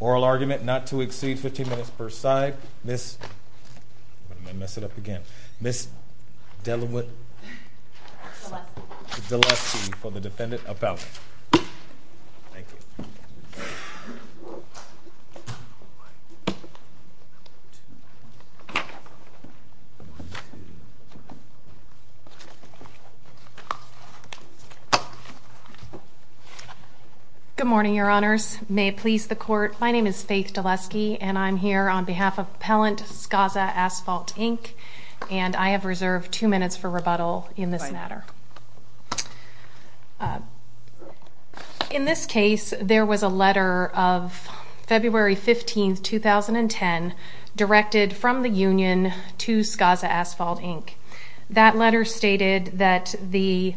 Oral argument not to exceed 15 minutes per side. Ms. I'm going to mess it up again. Ms. Delaware. Good morning, your honors. May it please the court. My name is Faith Dilesky, and I'm here on behalf of Appellant Scassa Asphalt Inc, and I have reserved two minutes for rebuttal. In this case, there was a letter of February 15, 2010, directed from the union to Scassa Asphalt Inc. That letter stated that the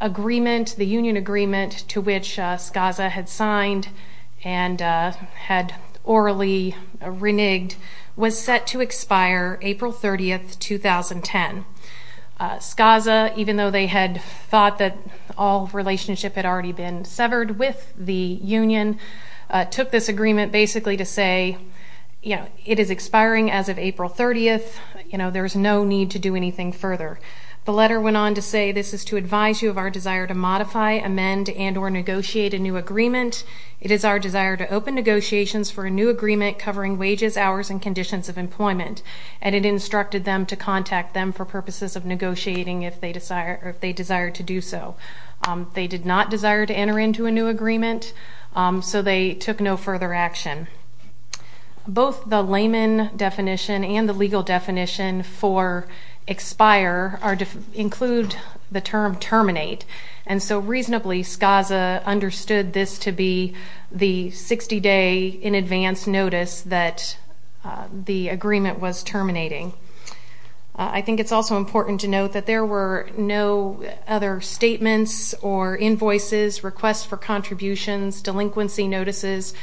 agreement, the union agreement to which Scassa had signed and had orally reneged, was set to expire April 30, 2010. Scassa, even though they had thought that all relationship had already been severed with the union, took this agreement basically to say, you know, it is expiring as of April 30th, you know, there's no need to do anything further. The letter went on to say this is to advise you of our desire to modify, amend, and or negotiate a new agreement. It is our desire to open negotiations for a new agreement covering wages, hours, and conditions of employment. And it instructed them to contact them for purposes of negotiating if they desire to do so. They did not desire to enter into a new agreement, so they took no further action. Both the layman definition and the legal definition for expire include the term terminate. And so reasonably, Scassa understood this to be the 60-day in advance notice that the agreement was terminating. I think it's also important to note that there were no other statements or invoices, requests for contributions, delinquency notices,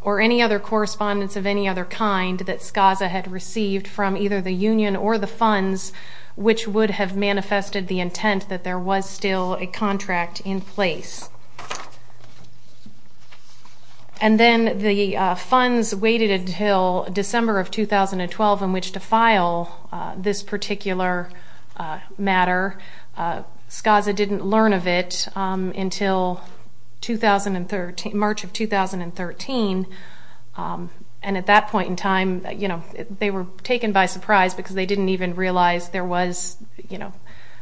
or any other correspondence of any other kind that Scassa had received from either the union or the funds, which would have manifested the intent that there was still a contract in place. And then the funds waited until December of 2012 in which to file this particular matter. Scassa didn't learn of it until March of 2013, and at that point in time, you know, they were taken by surprise because they didn't even realize there was, you know,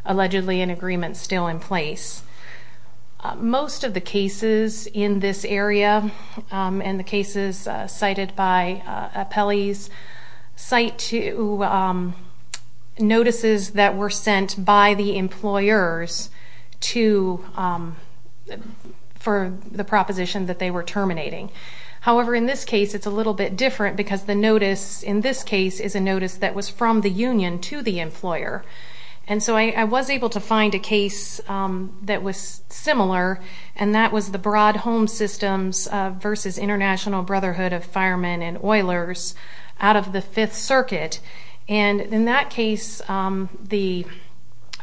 allegedly an agreement still in place. Most of the cases in this area and the cases cited by appellees cite notices that were sent by the employers for the proposition that they were terminating. However, in this case, it's a little bit different because the notice in this case is a notice that was from the union to the employer. And so I was able to find a case that was similar, and that was the Broad Home Systems versus International Brotherhood of Firemen and Oilers out of the Fifth Circuit. And in that case, the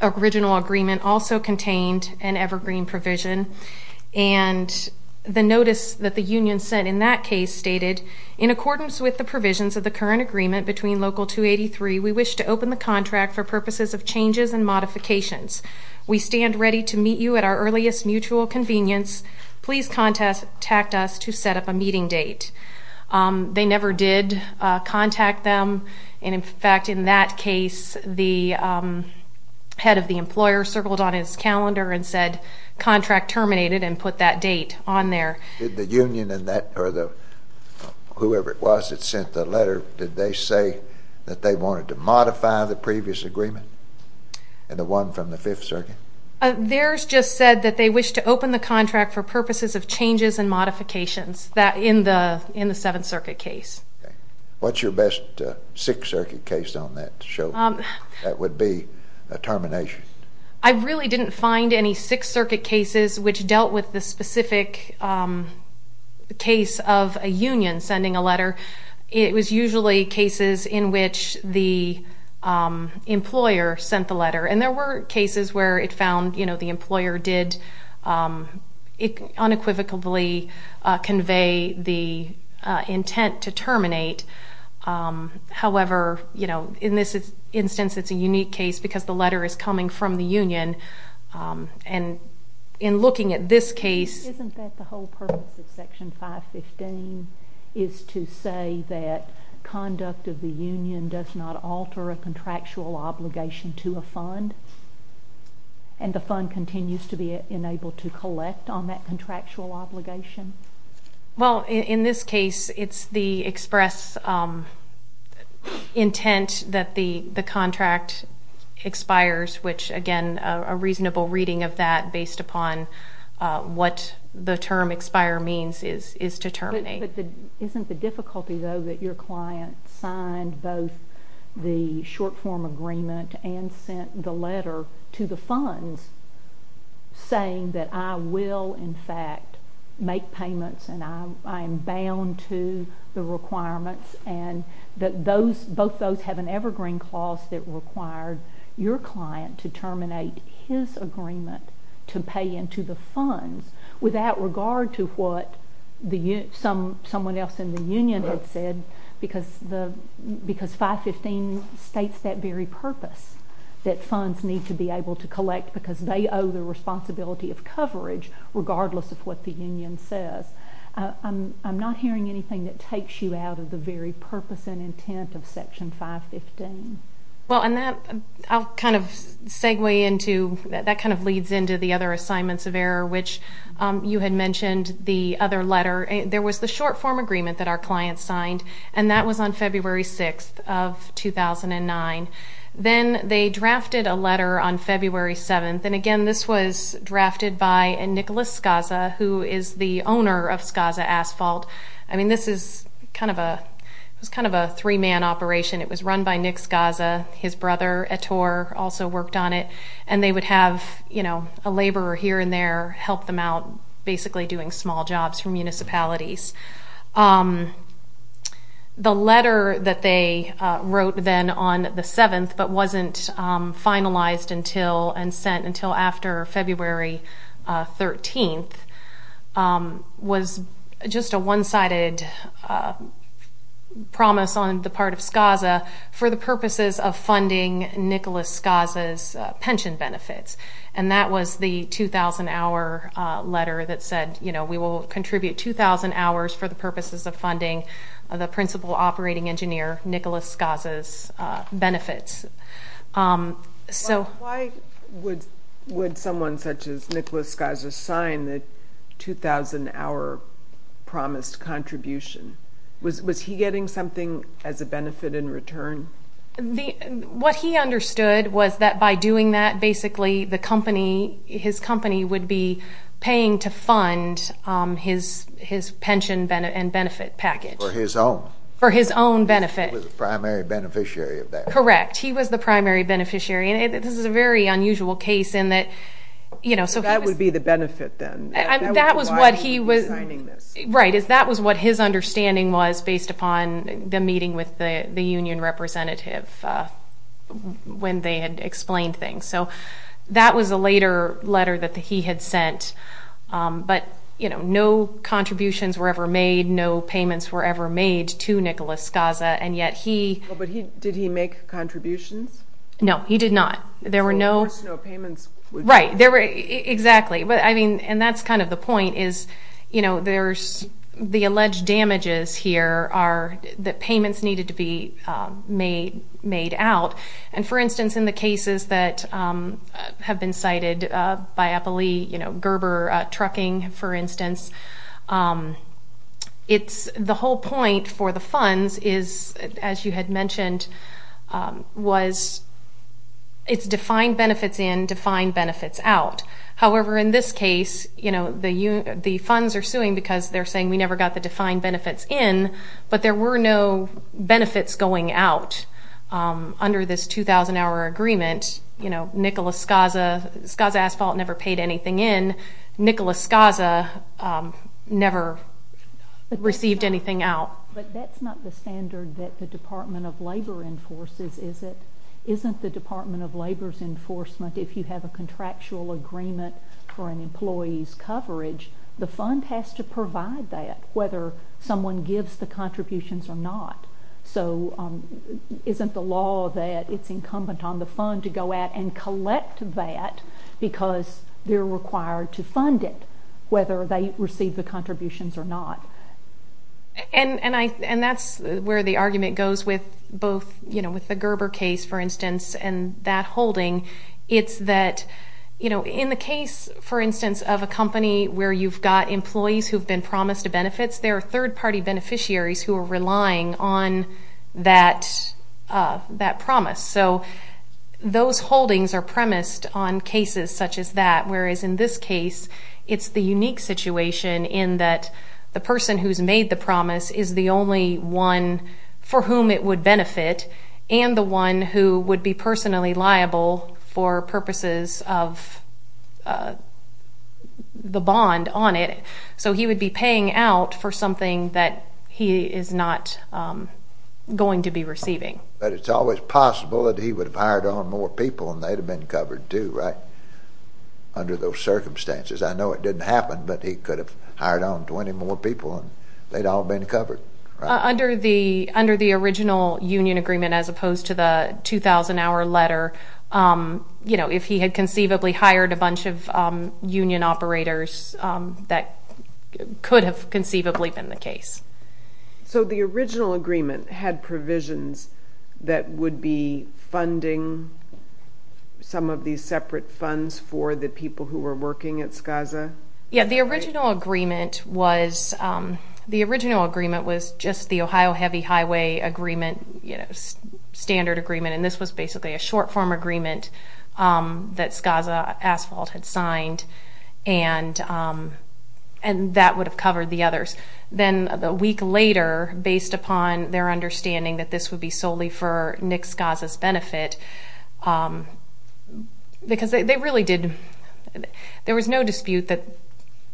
original agreement also contained an evergreen provision. And the notice that the union sent in that case stated, in accordance with the provisions of the current agreement between Local 283, we wish to open the contract for purposes of changes and modifications. We stand ready to meet you at our earliest mutual convenience. Please contact us to set up a meeting date. They never did contact them, and in fact, in that case, the head of the employer circled on his calendar and said, contract terminated, and put that date on there. Did the union or whoever it was that sent the letter, did they say that they wanted to modify the previous agreement and the one from the Fifth Circuit? Theirs just said that they wish to open the contract for purposes of changes and modifications in the Seventh Circuit case. What's your best Sixth Circuit case on that to show that would be a termination? I really didn't find any Sixth Circuit cases which dealt with the specific case of a union sending a letter. It was usually cases in which the employer sent the letter. And there were cases where it found, you know, the employer did unequivocally convey the intent to terminate. However, you know, in this instance, it's a unique case because the letter is coming from the union. And in looking at this case... Isn't that the whole purpose of Section 515 is to say that conduct of the union does not alter a contractual obligation to a fund, and the fund continues to be enabled to collect on that contractual obligation? Well, in this case, it's the express intent that the contract expires, which, again, a reasonable reading of that based upon what the term expire means is to terminate. But isn't the difficulty, though, that your client signed both the short-form agreement and sent the letter to the funds saying that I will, in fact, make payments and I am bound to the requirements and that both those have an evergreen clause that required your client to terminate his agreement to pay into the funds without regard to what someone else in the union had said because 515 states that very purpose that funds need to be able to collect because they owe the responsibility of coverage regardless of what the union says. I'm not hearing anything that takes you out of the very purpose and intent of Section 515. Well, and that, I'll kind of segue into, that kind of leads into the other assignments of error, which you had mentioned the other letter. There was the short-form agreement that our client signed, and that was on February 6th of 2009. Then they drafted a letter on February 7th, and, again, this was drafted by Nicholas Skaza, who is the owner of Skaza Asphalt. I mean, this is kind of a three-man operation. It was run by Nick Skaza. His brother, Ettore, also worked on it, and they would have a laborer here and there help them out, basically doing small jobs for municipalities. The letter that they wrote then on the 7th but wasn't finalized until and sent until after February 13th was just a one-sided promise on the part of Skaza for the purposes of funding Nicholas Skaza's pension benefits, and that was the 2,000-hour letter that said, you know, we will contribute 2,000 hours for the purposes of funding the principal operating engineer Nicholas Skaza's benefits. Why would someone such as Nicholas Skaza sign the 2,000-hour promised contribution? Was he getting something as a benefit in return? What he understood was that by doing that, basically, his company would be paying to fund his pension and benefit package. For his own. For his own benefit. He was the primary beneficiary of that. Correct. He was the primary beneficiary, and this is a very unusual case in that, you know, so he was... That would be the benefit then. That was what he was... That would be why he was signing this. Right. That was what his understanding was based upon the meeting with the union representative when they had explained things. So that was a later letter that he had sent, but, you know, no contributions were ever made, no payments were ever made to Nicholas Skaza, and yet he... But did he make contributions? No, he did not. There were no... So there was no payments. Right. There were... Exactly. But, I mean, and that's kind of the point is, you know, there's the alleged damages here are that payments needed to be made out, and, for instance, in the cases that have been cited by Eppley, you know, Gerber Trucking, for instance, it's the whole point for the funds is, as you had mentioned, was it's defined benefits in, defined benefits out. However, in this case, you know, the funds are suing because they're saying we never got the defined benefits in, but there were no benefits going out under this 2,000-hour agreement. You know, Nicholas Skaza, Skaza Asphalt never paid anything in. Nicholas Skaza never received anything out. But that's not the standard that the Department of Labor enforces, is it? Isn't the Department of Labor's enforcement, if you have a contractual agreement for an employee's coverage, the fund has to provide that, whether someone gives the contributions or not. So isn't the law that it's incumbent on the fund to go out and collect that because they're required to fund it, whether they receive the contributions or not? And that's where the argument goes with both, you know, with the Gerber case, for instance, and that holding. It's that, you know, in the case, for instance, of a company where you've got employees who've been promised benefits, there are third-party beneficiaries who are relying on that promise. So those holdings are premised on cases such as that, whereas in this case, it's the unique situation in that the person who's made the promise is the only one for whom it would benefit and the one who would be personally liable for purposes of the bond on it. So he would be paying out for something that he is not going to be receiving. But it's always possible that he would have hired on more people and they'd have been covered too, right, under those circumstances? I know it didn't happen, but he could have hired on 20 more people and they'd all been covered, right? Under the original union agreement, as opposed to the 2,000-hour letter, you know, if he had conceivably hired a bunch of union operators, that could have conceivably been the case. So the original agreement had provisions that would be funding some of these separate funds for the people who were working at SCAZA? Yeah, the original agreement was just the Ohio Heavy Highway Agreement, you know, standard agreement, and this was basically a short-form agreement that SCAZA Asphalt had signed, and that would have covered the others. Then a week later, based upon their understanding that this would be solely for Nick SCAZA's benefit, because they really did, there was no dispute that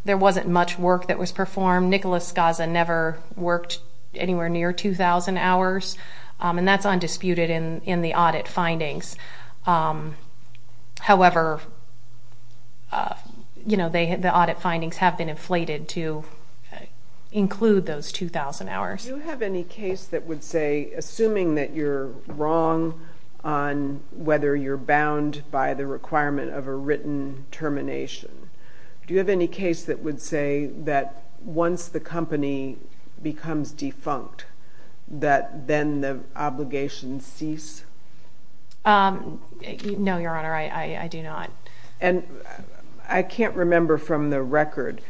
there wasn't much work that was performed. Nick SCAZA never worked anywhere near 2,000 hours, and that's undisputed in the audit findings. However, you know, the audit findings have been inflated to include those 2,000 hours. Do you have any case that would say, assuming that you're wrong on whether you're bound by the requirement of a written termination, do you have any case that would say that once the company becomes defunct, that then the obligations cease? No, Your Honor, I do not. And I can't remember from the record,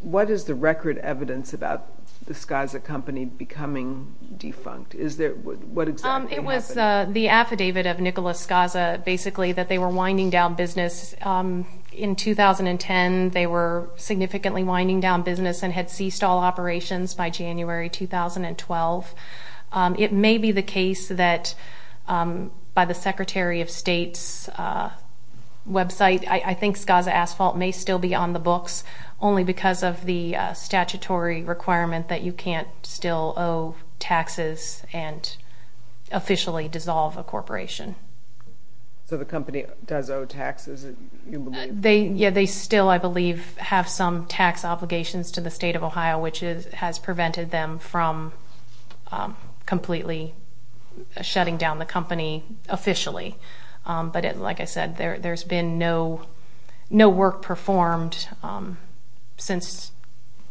what is the record evidence about the SCAZA company becoming defunct? What exactly happened? It was the affidavit of Nicholas SCAZA, basically, that they were winding down business. In 2010, they were significantly winding down business and had ceased all operations by January 2012. It may be the case that by the Secretary of State's website, I think SCAZA Asphalt may still be on the books, only because of the statutory requirement that you can't still owe taxes and officially dissolve a corporation. So the company does owe taxes, you believe? Yeah, they still, I believe, have some tax obligations to the state of Ohio, which has prevented them from completely shutting down the company officially. But like I said, there's been no work performed since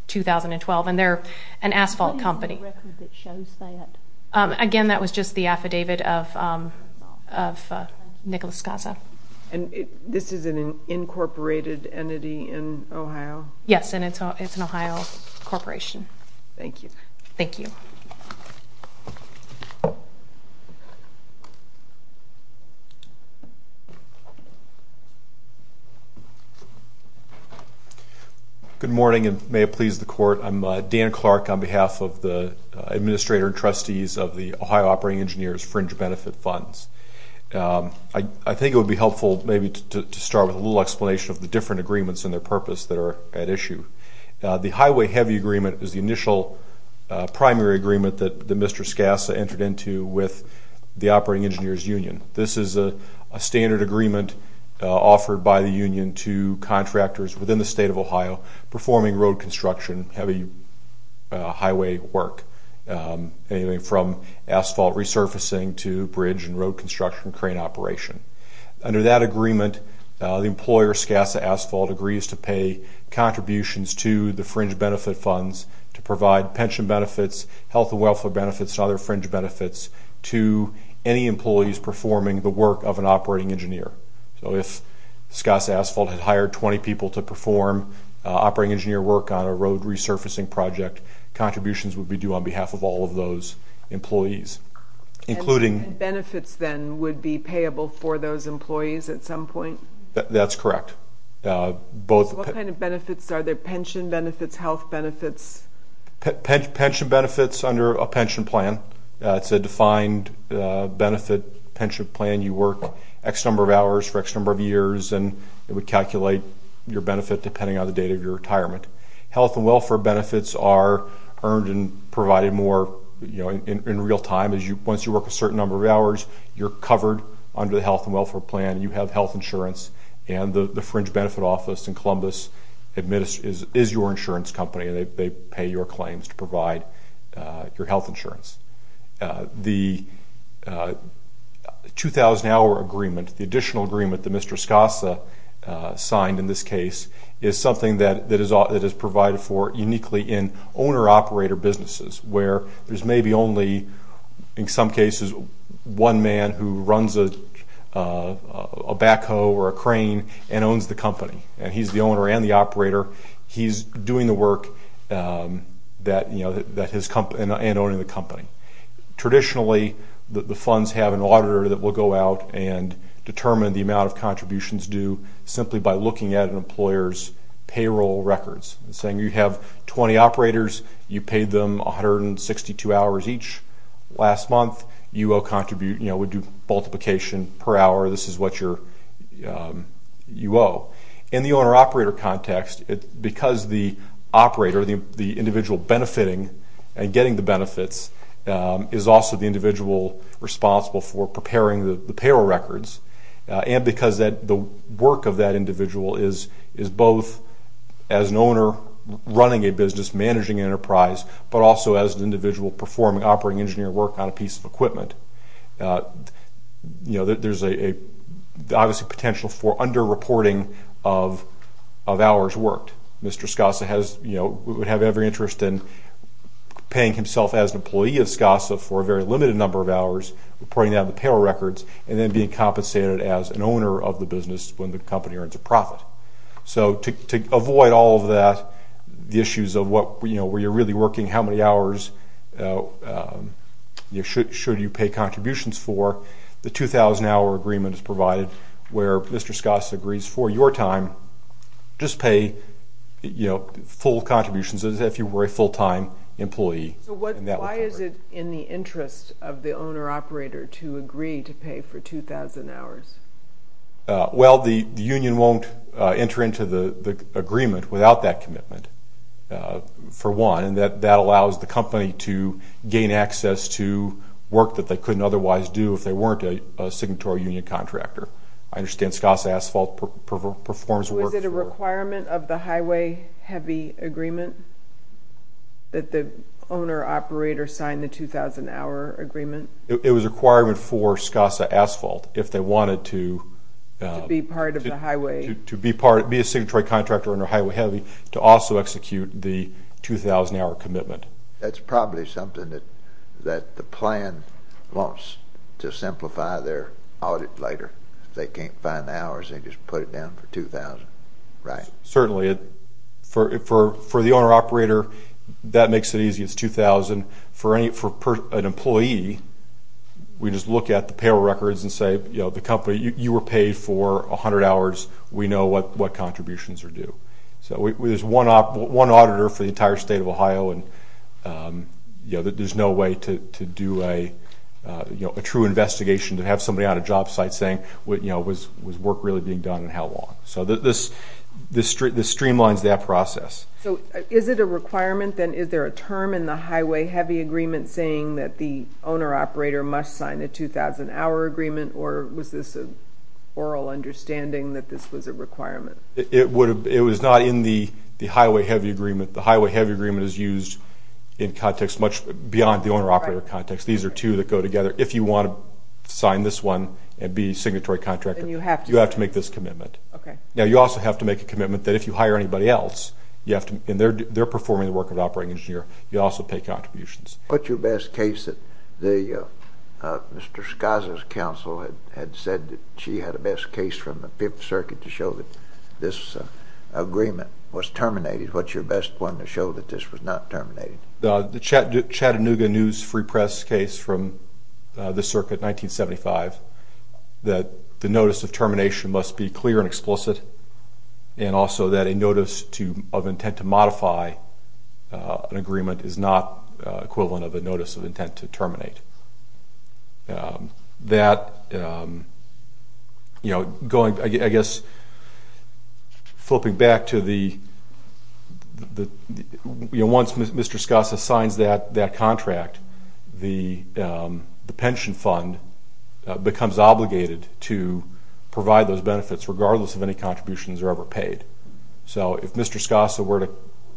2012, and they're an asphalt company. What is the record that shows that? Again, that was just the affidavit of Nicholas SCAZA. And this is an incorporated entity in Ohio? Yes, and it's an Ohio corporation. Thank you. Thank you. Good morning, and may it please the Court. I'm Dan Clark on behalf of the administrator and trustees of the Ohio Operating Engineers Fringe Benefit Funds. I think it would be helpful maybe to start with a little explanation of the different agreements and their purpose that are at issue. The Highway Heavy Agreement is the initial primary agreement that Mr. SCAZA entered into with the Operating Engineers Union. This is a standard agreement offered by the union to contractors within the state of Ohio performing road construction, heavy highway work, anything from asphalt resurfacing to bridge and road construction, crane operation. Under that agreement, the employer, SCAZA Asphalt, agrees to pay contributions to the Fringe Benefit Funds to provide pension benefits, health and welfare benefits, and other fringe benefits to any employees performing the work of an operating engineer. So if SCAZA Asphalt had hired 20 people to perform operating engineer work on a road resurfacing project, contributions would be due on behalf of all of those employees. And benefits then would be payable for those employees at some point? That's correct. What kind of benefits? Are there pension benefits, health benefits? Pension benefits under a pension plan. It's a defined benefit pension plan. You work X number of hours for X number of years, and it would calculate your benefit depending on the date of your retirement. Health and welfare benefits are earned and provided more in real time. Once you work a certain number of hours, you're covered under the health and welfare plan. You have health insurance, and the Fringe Benefit Office in Columbus is your insurance company. They pay your claims to provide your health insurance. The 2,000-hour agreement, the additional agreement that Mr. SCAZA signed in this case, is something that is provided for uniquely in owner-operator businesses where there's maybe only, in some cases, one man who runs a backhoe or a crane and owns the company, and he's the owner and the operator. He's doing the work and owning the company. Traditionally, the funds have an auditor that will go out and determine the amount of contributions due simply by looking at an employer's payroll records and saying you have 20 operators. You paid them 162 hours each last month. You would do multiplication per hour. This is what you owe. In the owner-operator context, because the operator, the individual benefiting and getting the benefits is also the individual responsible for preparing the payroll records, and because the work of that individual is both as an owner running a business, managing an enterprise, but also as an individual performing operating engineer work on a piece of equipment, there's obviously potential for under-reporting of hours worked. Mr. SCAZA would have every interest in paying himself as an employee of SCAZA for a very limited number of hours, reporting that on the payroll records, and then being compensated as an owner of the business when the company earns a profit. So to avoid all of that, the issues of where you're really working, how many hours should you pay contributions for, the 2,000-hour agreement is provided where Mr. SCAZA agrees for your time, just pay full contributions as if you were a full-time employee. So why is it in the interest of the owner-operator to agree to pay for 2,000 hours? Well, the union won't enter into the agreement without that commitment, for one, and that allows the company to gain access to work that they couldn't otherwise do if they weren't a signatory union contractor. I understand SCAZA Asphalt performs work for you. Was it a requirement of the highway heavy agreement that the owner-operator sign the 2,000-hour agreement? It was a requirement for SCAZA Asphalt if they wanted to be a signatory contractor under highway heavy to also execute the 2,000-hour commitment. That's probably something that the plan wants to simplify their audit later. If they can't find the hours, they just put it down for 2,000. Right. Certainly. For the owner-operator, that makes it easy. It's 2,000. For an employee, we just look at the payroll records and say, you know, the company, you were paid for 100 hours. We know what contributions are due. So there's one auditor for the entire state of Ohio, and there's no way to do a true investigation to have somebody on a job site saying, you know, was work really being done and how long? So this streamlines that process. So is it a requirement then? Is there a term in the highway heavy agreement saying that the owner-operator must sign a 2,000-hour agreement, or was this an oral understanding that this was a requirement? It was not in the highway heavy agreement. The highway heavy agreement is used in context much beyond the owner-operator context. These are two that go together. If you want to sign this one and be a signatory contractor, you have to make this commitment. Okay. Now, you also have to make a commitment that if you hire anybody else, and they're performing the work of an operating engineer, you also pay contributions. What's your best case that Mr. Skaza's counsel had said that she had a best case from the Fifth Circuit to show that this agreement was terminated? What's your best one to show that this was not terminated? The Chattanooga News Free Press case from the Circuit, 1975, that the notice of termination must be clear and explicit, and also that a notice of intent to modify an agreement is not equivalent of a notice of intent to terminate. That, you know, going, I guess, flipping back to the, you know, once Mr. Skaza signs that contract, the pension fund becomes obligated to provide those benefits regardless of any contributions that are ever paid. So if Mr. Skaza were to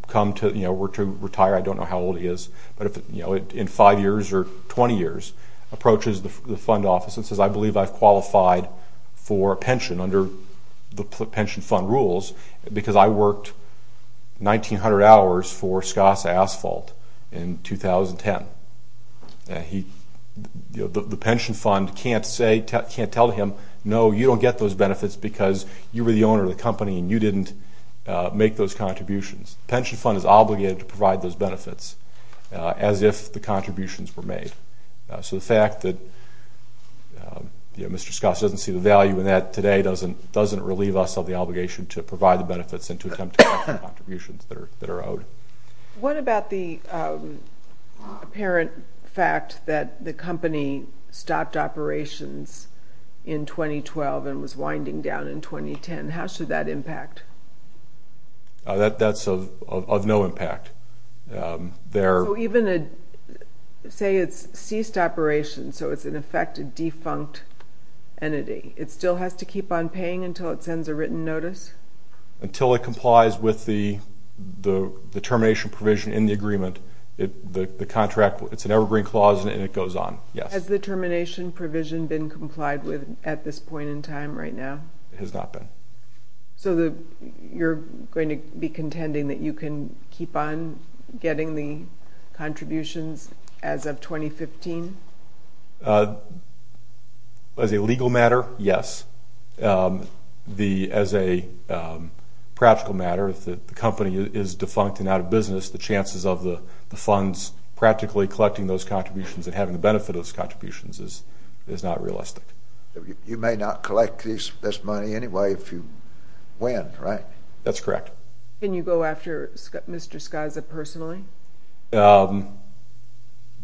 come to, you know, were to retire, I don't know how old he is, but if, you know, in 5 years or 20 years, approaches the fund office and says, I believe I've qualified for a pension under the pension fund rules because I worked 1,900 hours for Skaza Asphalt in 2010. He, you know, the pension fund can't say, can't tell him, no, you don't get those benefits because you were the owner of the company and you didn't make those contributions. The pension fund is obligated to provide those benefits as if the contributions were made. So the fact that, you know, Mr. Skaza doesn't see the value in that today doesn't relieve us of the obligation to provide the benefits and to attempt to make the contributions that are owed. What about the apparent fact that the company stopped operations in 2012 and was winding down in 2010? How should that impact? That's of no impact. So even a, say it's ceased operations, so it's in effect a defunct entity. It still has to keep on paying until it sends a written notice? Until it complies with the termination provision in the agreement. The contract, it's an evergreen clause and it goes on, yes. Has the termination provision been complied with at this point in time right now? It has not been. So you're going to be contending that you can keep on getting the contributions as of 2015? As a legal matter, yes. As a practical matter, if the company is defunct and out of business, the chances of the funds practically collecting those contributions and having the benefit of those contributions is not realistic. You may not collect this money anyway if you win, right? That's correct. Can you go after Mr. Skaza personally?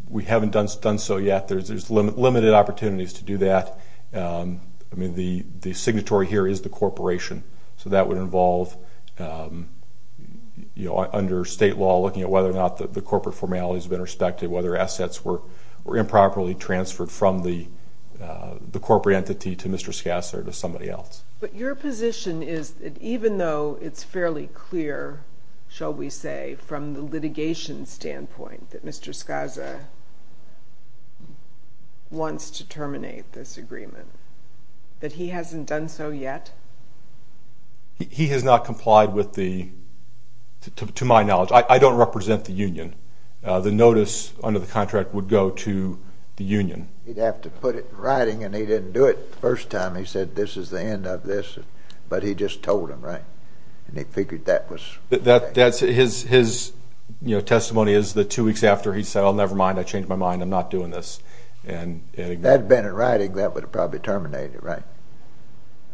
We haven't done so yet. There's limited opportunities to do that. I mean, the signatory here is the corporation, so that would involve under state law looking at whether or not the corporate formality has been respected, whether assets were improperly transferred from the corporate entity to Mr. Skaza or to somebody else. But your position is that even though it's fairly clear, shall we say, from the litigation standpoint that Mr. Skaza wants to terminate this agreement, that he hasn't done so yet? He has not complied with the, to my knowledge. I don't represent the union. The notice under the contract would go to the union. He'd have to put it in writing, and he didn't do it the first time. He said this is the end of this, but he just told them, right? And he figured that was right. His testimony is that two weeks after, he said, oh, never mind, I changed my mind, I'm not doing this. If that had been in writing, that would have probably terminated, right?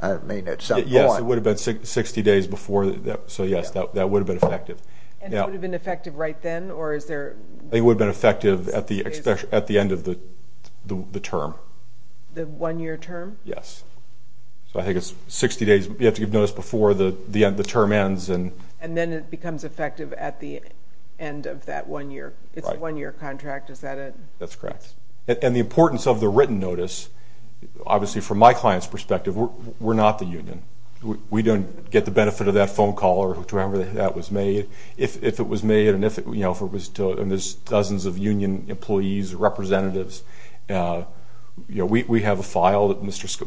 I mean, at some point. Yes, it would have been 60 days before. So, yes, that would have been effective. And it would have been effective right then? It would have been effective at the end of the term. The one-year term? Yes. So I think it's 60 days. You have to give notice before the term ends. And then it becomes effective at the end of that one year. It's a one-year contract. Is that it? That's correct. And the importance of the written notice, obviously, from my client's perspective, we're not the union. We don't get the benefit of that phone call or whichever that was made. If it was made and there's dozens of union employees, representatives, we have a file with Mr.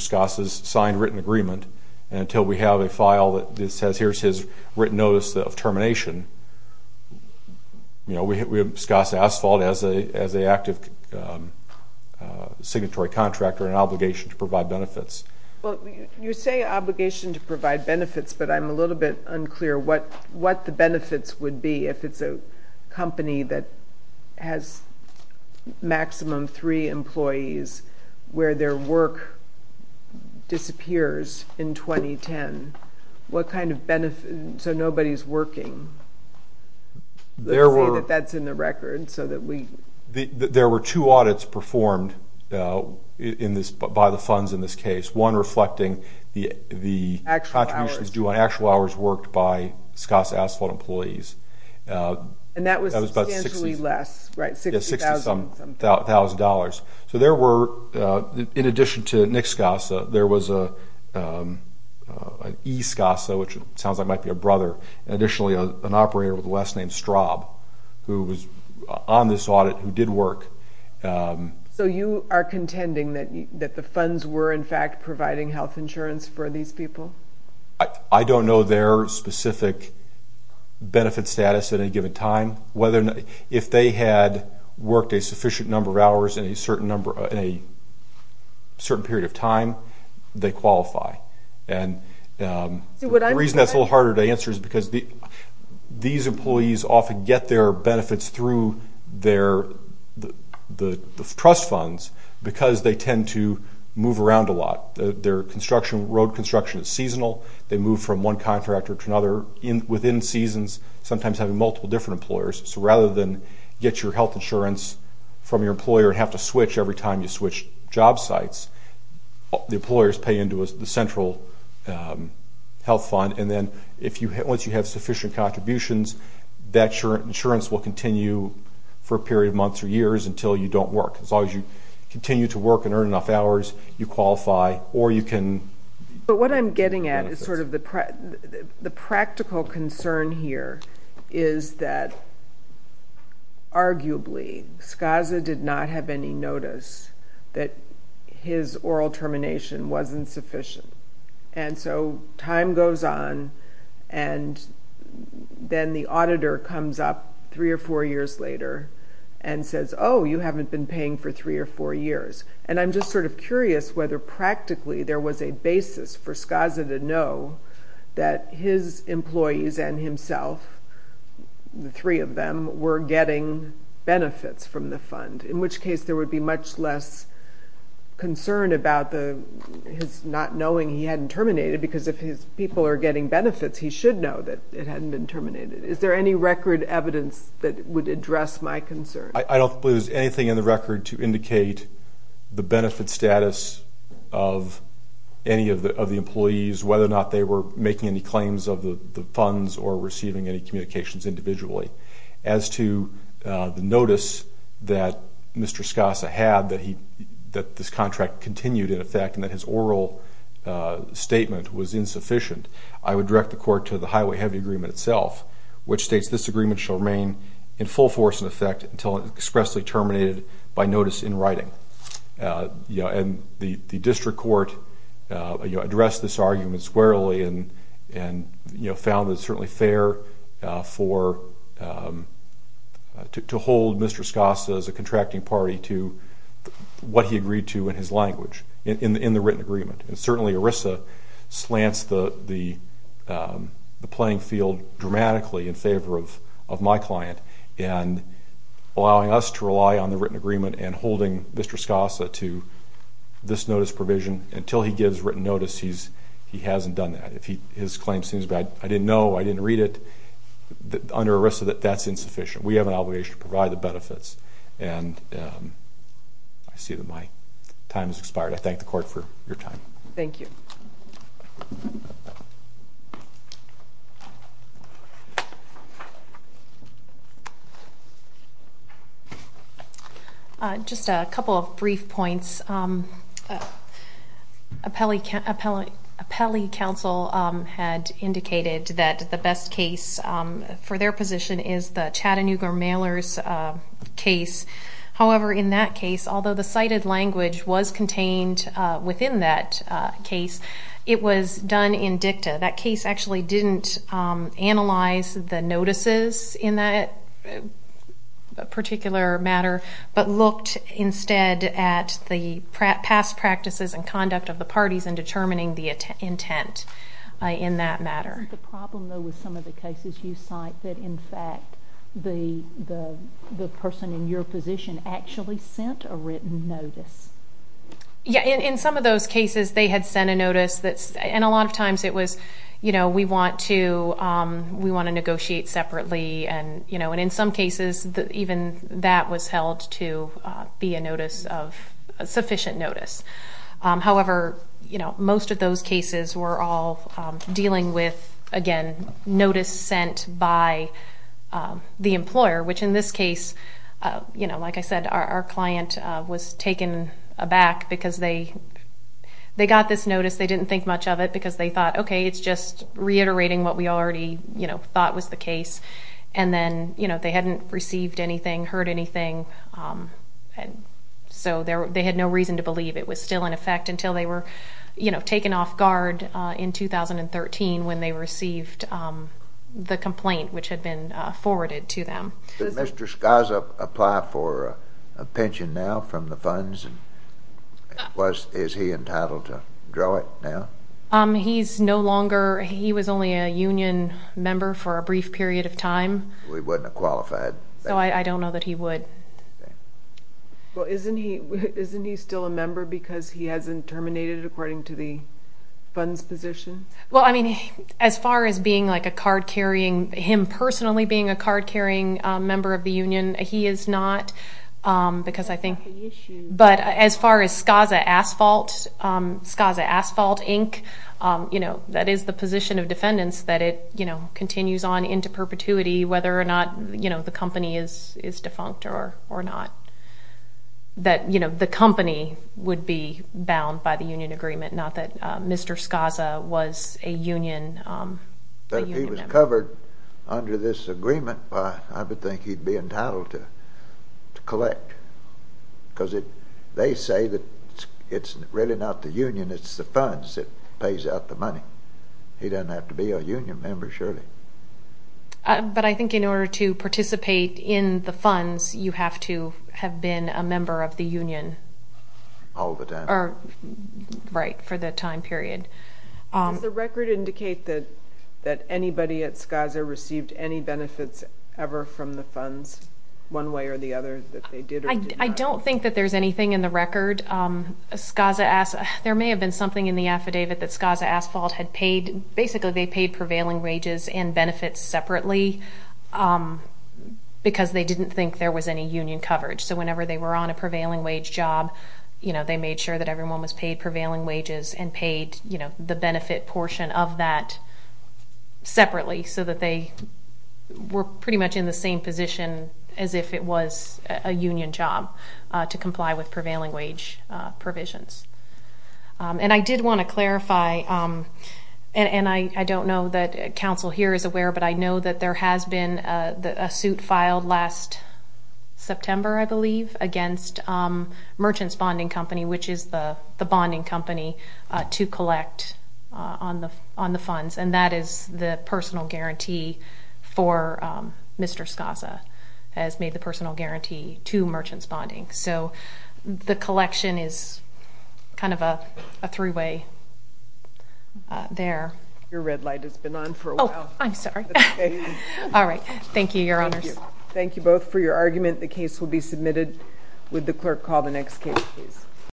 Scoss's signed written agreement. And until we have a file that says here's his written notice of termination, we have Scoss Asphalt as an active signatory contractor and an obligation to provide benefits. Well, you say obligation to provide benefits, but I'm a little bit unclear what the benefits would be if it's a company that has maximum three employees where their work disappears in 2010. What kind of benefit? So nobody's working. Let's say that that's in the record. There were two audits performed by the funds in this case, one reflecting the contributions due on actual hours worked by Scoss Asphalt employees. And that was substantially less, right? Yes, $60,000. So there were, in addition to Nick Scoss, there was an E Scoss, which sounds like it might be a brother, and additionally an operator with a last name Straub who was on this audit who did work. So you are contending that the funds were, in fact, providing health insurance for these people? I don't know their specific benefit status at any given time. If they had worked a sufficient number of hours in a certain period of time, they qualify. The reason that's a little harder to answer is because these employees often get their benefits through the trust funds because they tend to move around a lot. Their road construction is seasonal. They move from one contractor to another within seasons, sometimes having multiple different employers. So rather than get your health insurance from your employer and have to switch every time you switch job sites, the employers pay into the central health fund. And then once you have sufficient contributions, that insurance will continue for a period of months or years until you don't work. As long as you continue to work and earn enough hours, you qualify or you can get benefits. But what I'm getting at is sort of the practical concern here is that arguably Skaza did not have any notice that his oral termination wasn't sufficient. And so time goes on, and then the auditor comes up three or four years later and says, oh, you haven't been paying for three or four years. And I'm just sort of curious whether practically there was a basis for Skaza to know that his employees and himself, the three of them, were getting benefits from the fund, in which case there would be much less concern about his not knowing he hadn't terminated because if his people are getting benefits, he should know that it hadn't been terminated. Is there any record evidence that would address my concern? I don't believe there's anything in the record to indicate the benefit status of any of the employees, whether or not they were making any claims of the funds or receiving any communications individually. As to the notice that Mr. Skaza had that this contract continued, in effect, and that his oral statement was insufficient, I would direct the court to the Highway Heavy Agreement itself, which states this agreement shall remain in full force, in effect, until it is expressly terminated by notice in writing. And the district court addressed this argument squarely and found that it's certainly fair to hold Mr. Skaza as a contracting party to what he agreed to in his language in the written agreement. And certainly ERISA slants the playing field dramatically in favor of my client and allowing us to rely on the written agreement and holding Mr. Skaza to this notice provision until he gives written notice he hasn't done that. If his claim seems bad, I didn't know, I didn't read it, under ERISA that that's insufficient. We have an obligation to provide the benefits. And I see that my time has expired. I thank the court for your time. Thank you. Just a couple of brief points. Appellee counsel had indicated that the best case for their position is the Chattanooga Mailers case. However, in that case, although the cited language was contained within that case, it was done in dicta. That case actually didn't analyze the notices in that particular matter but looked instead at the past practices and conduct of the parties in determining the intent in that matter. Isn't the problem, though, with some of the cases you cite that, in fact, the person in your position actually sent a written notice? Yeah, in some of those cases they had sent a notice. And a lot of times it was, you know, we want to negotiate separately. And, you know, in some cases even that was held to be a notice of sufficient notice. However, you know, most of those cases were all dealing with, again, notice sent by the employer, which in this case, you know, like I said, our client was taken aback because they got this notice. They didn't think much of it because they thought, okay, it's just reiterating what we already, you know, thought was the case. And then, you know, they hadn't received anything, heard anything. And so they had no reason to believe it was still in effect until they were, you know, taken off guard in 2013 when they received the complaint which had been forwarded to them. Did Mr. Skaza apply for a pension now from the funds? Is he entitled to draw it now? He's no longer. He was only a union member for a brief period of time. He wouldn't have qualified. So I don't know that he would. Well, isn't he still a member because he hasn't terminated according to the funds position? Well, I mean, as far as being like a card-carrying, him personally being a card-carrying member of the union, he is not. Because I think, but as far as Skaza Asphalt, Skaza Asphalt, Inc., you know, that is the position of defendants that it, you know, the company is defunct or not. That, you know, the company would be bound by the union agreement, not that Mr. Skaza was a union member. But if he was covered under this agreement, I would think he'd be entitled to collect. Because they say that it's really not the union, it's the funds that pays out the money. He doesn't have to be a union member, surely. But I think in order to participate in the funds, you have to have been a member of the union. All the time. Right, for the time period. Does the record indicate that anybody at Skaza received any benefits ever from the funds, one way or the other, that they did or did not? I don't think that there's anything in the record. There may have been something in the affidavit that Skaza Asphalt had paid. Basically, they paid prevailing wages and benefits separately because they didn't think there was any union coverage. So whenever they were on a prevailing wage job, you know, they made sure that everyone was paid prevailing wages and paid, you know, the benefit portion of that separately so that they were pretty much in the same position as if it was a union job to comply with prevailing wage provisions. And I did want to clarify, and I don't know that counsel here is aware, but I know that there has been a suit filed last September, I believe, against Merchant's Bonding Company, which is the bonding company to collect on the funds. And that is the personal guarantee for Mr. Skaza has made the personal guarantee to Merchant's Bonding. So the collection is kind of a three-way there. Your red light has been on for a while. Oh, I'm sorry. All right. Thank you, Your Honors. Thank you both for your argument. The case will be submitted with the clerk. Call the next case, please.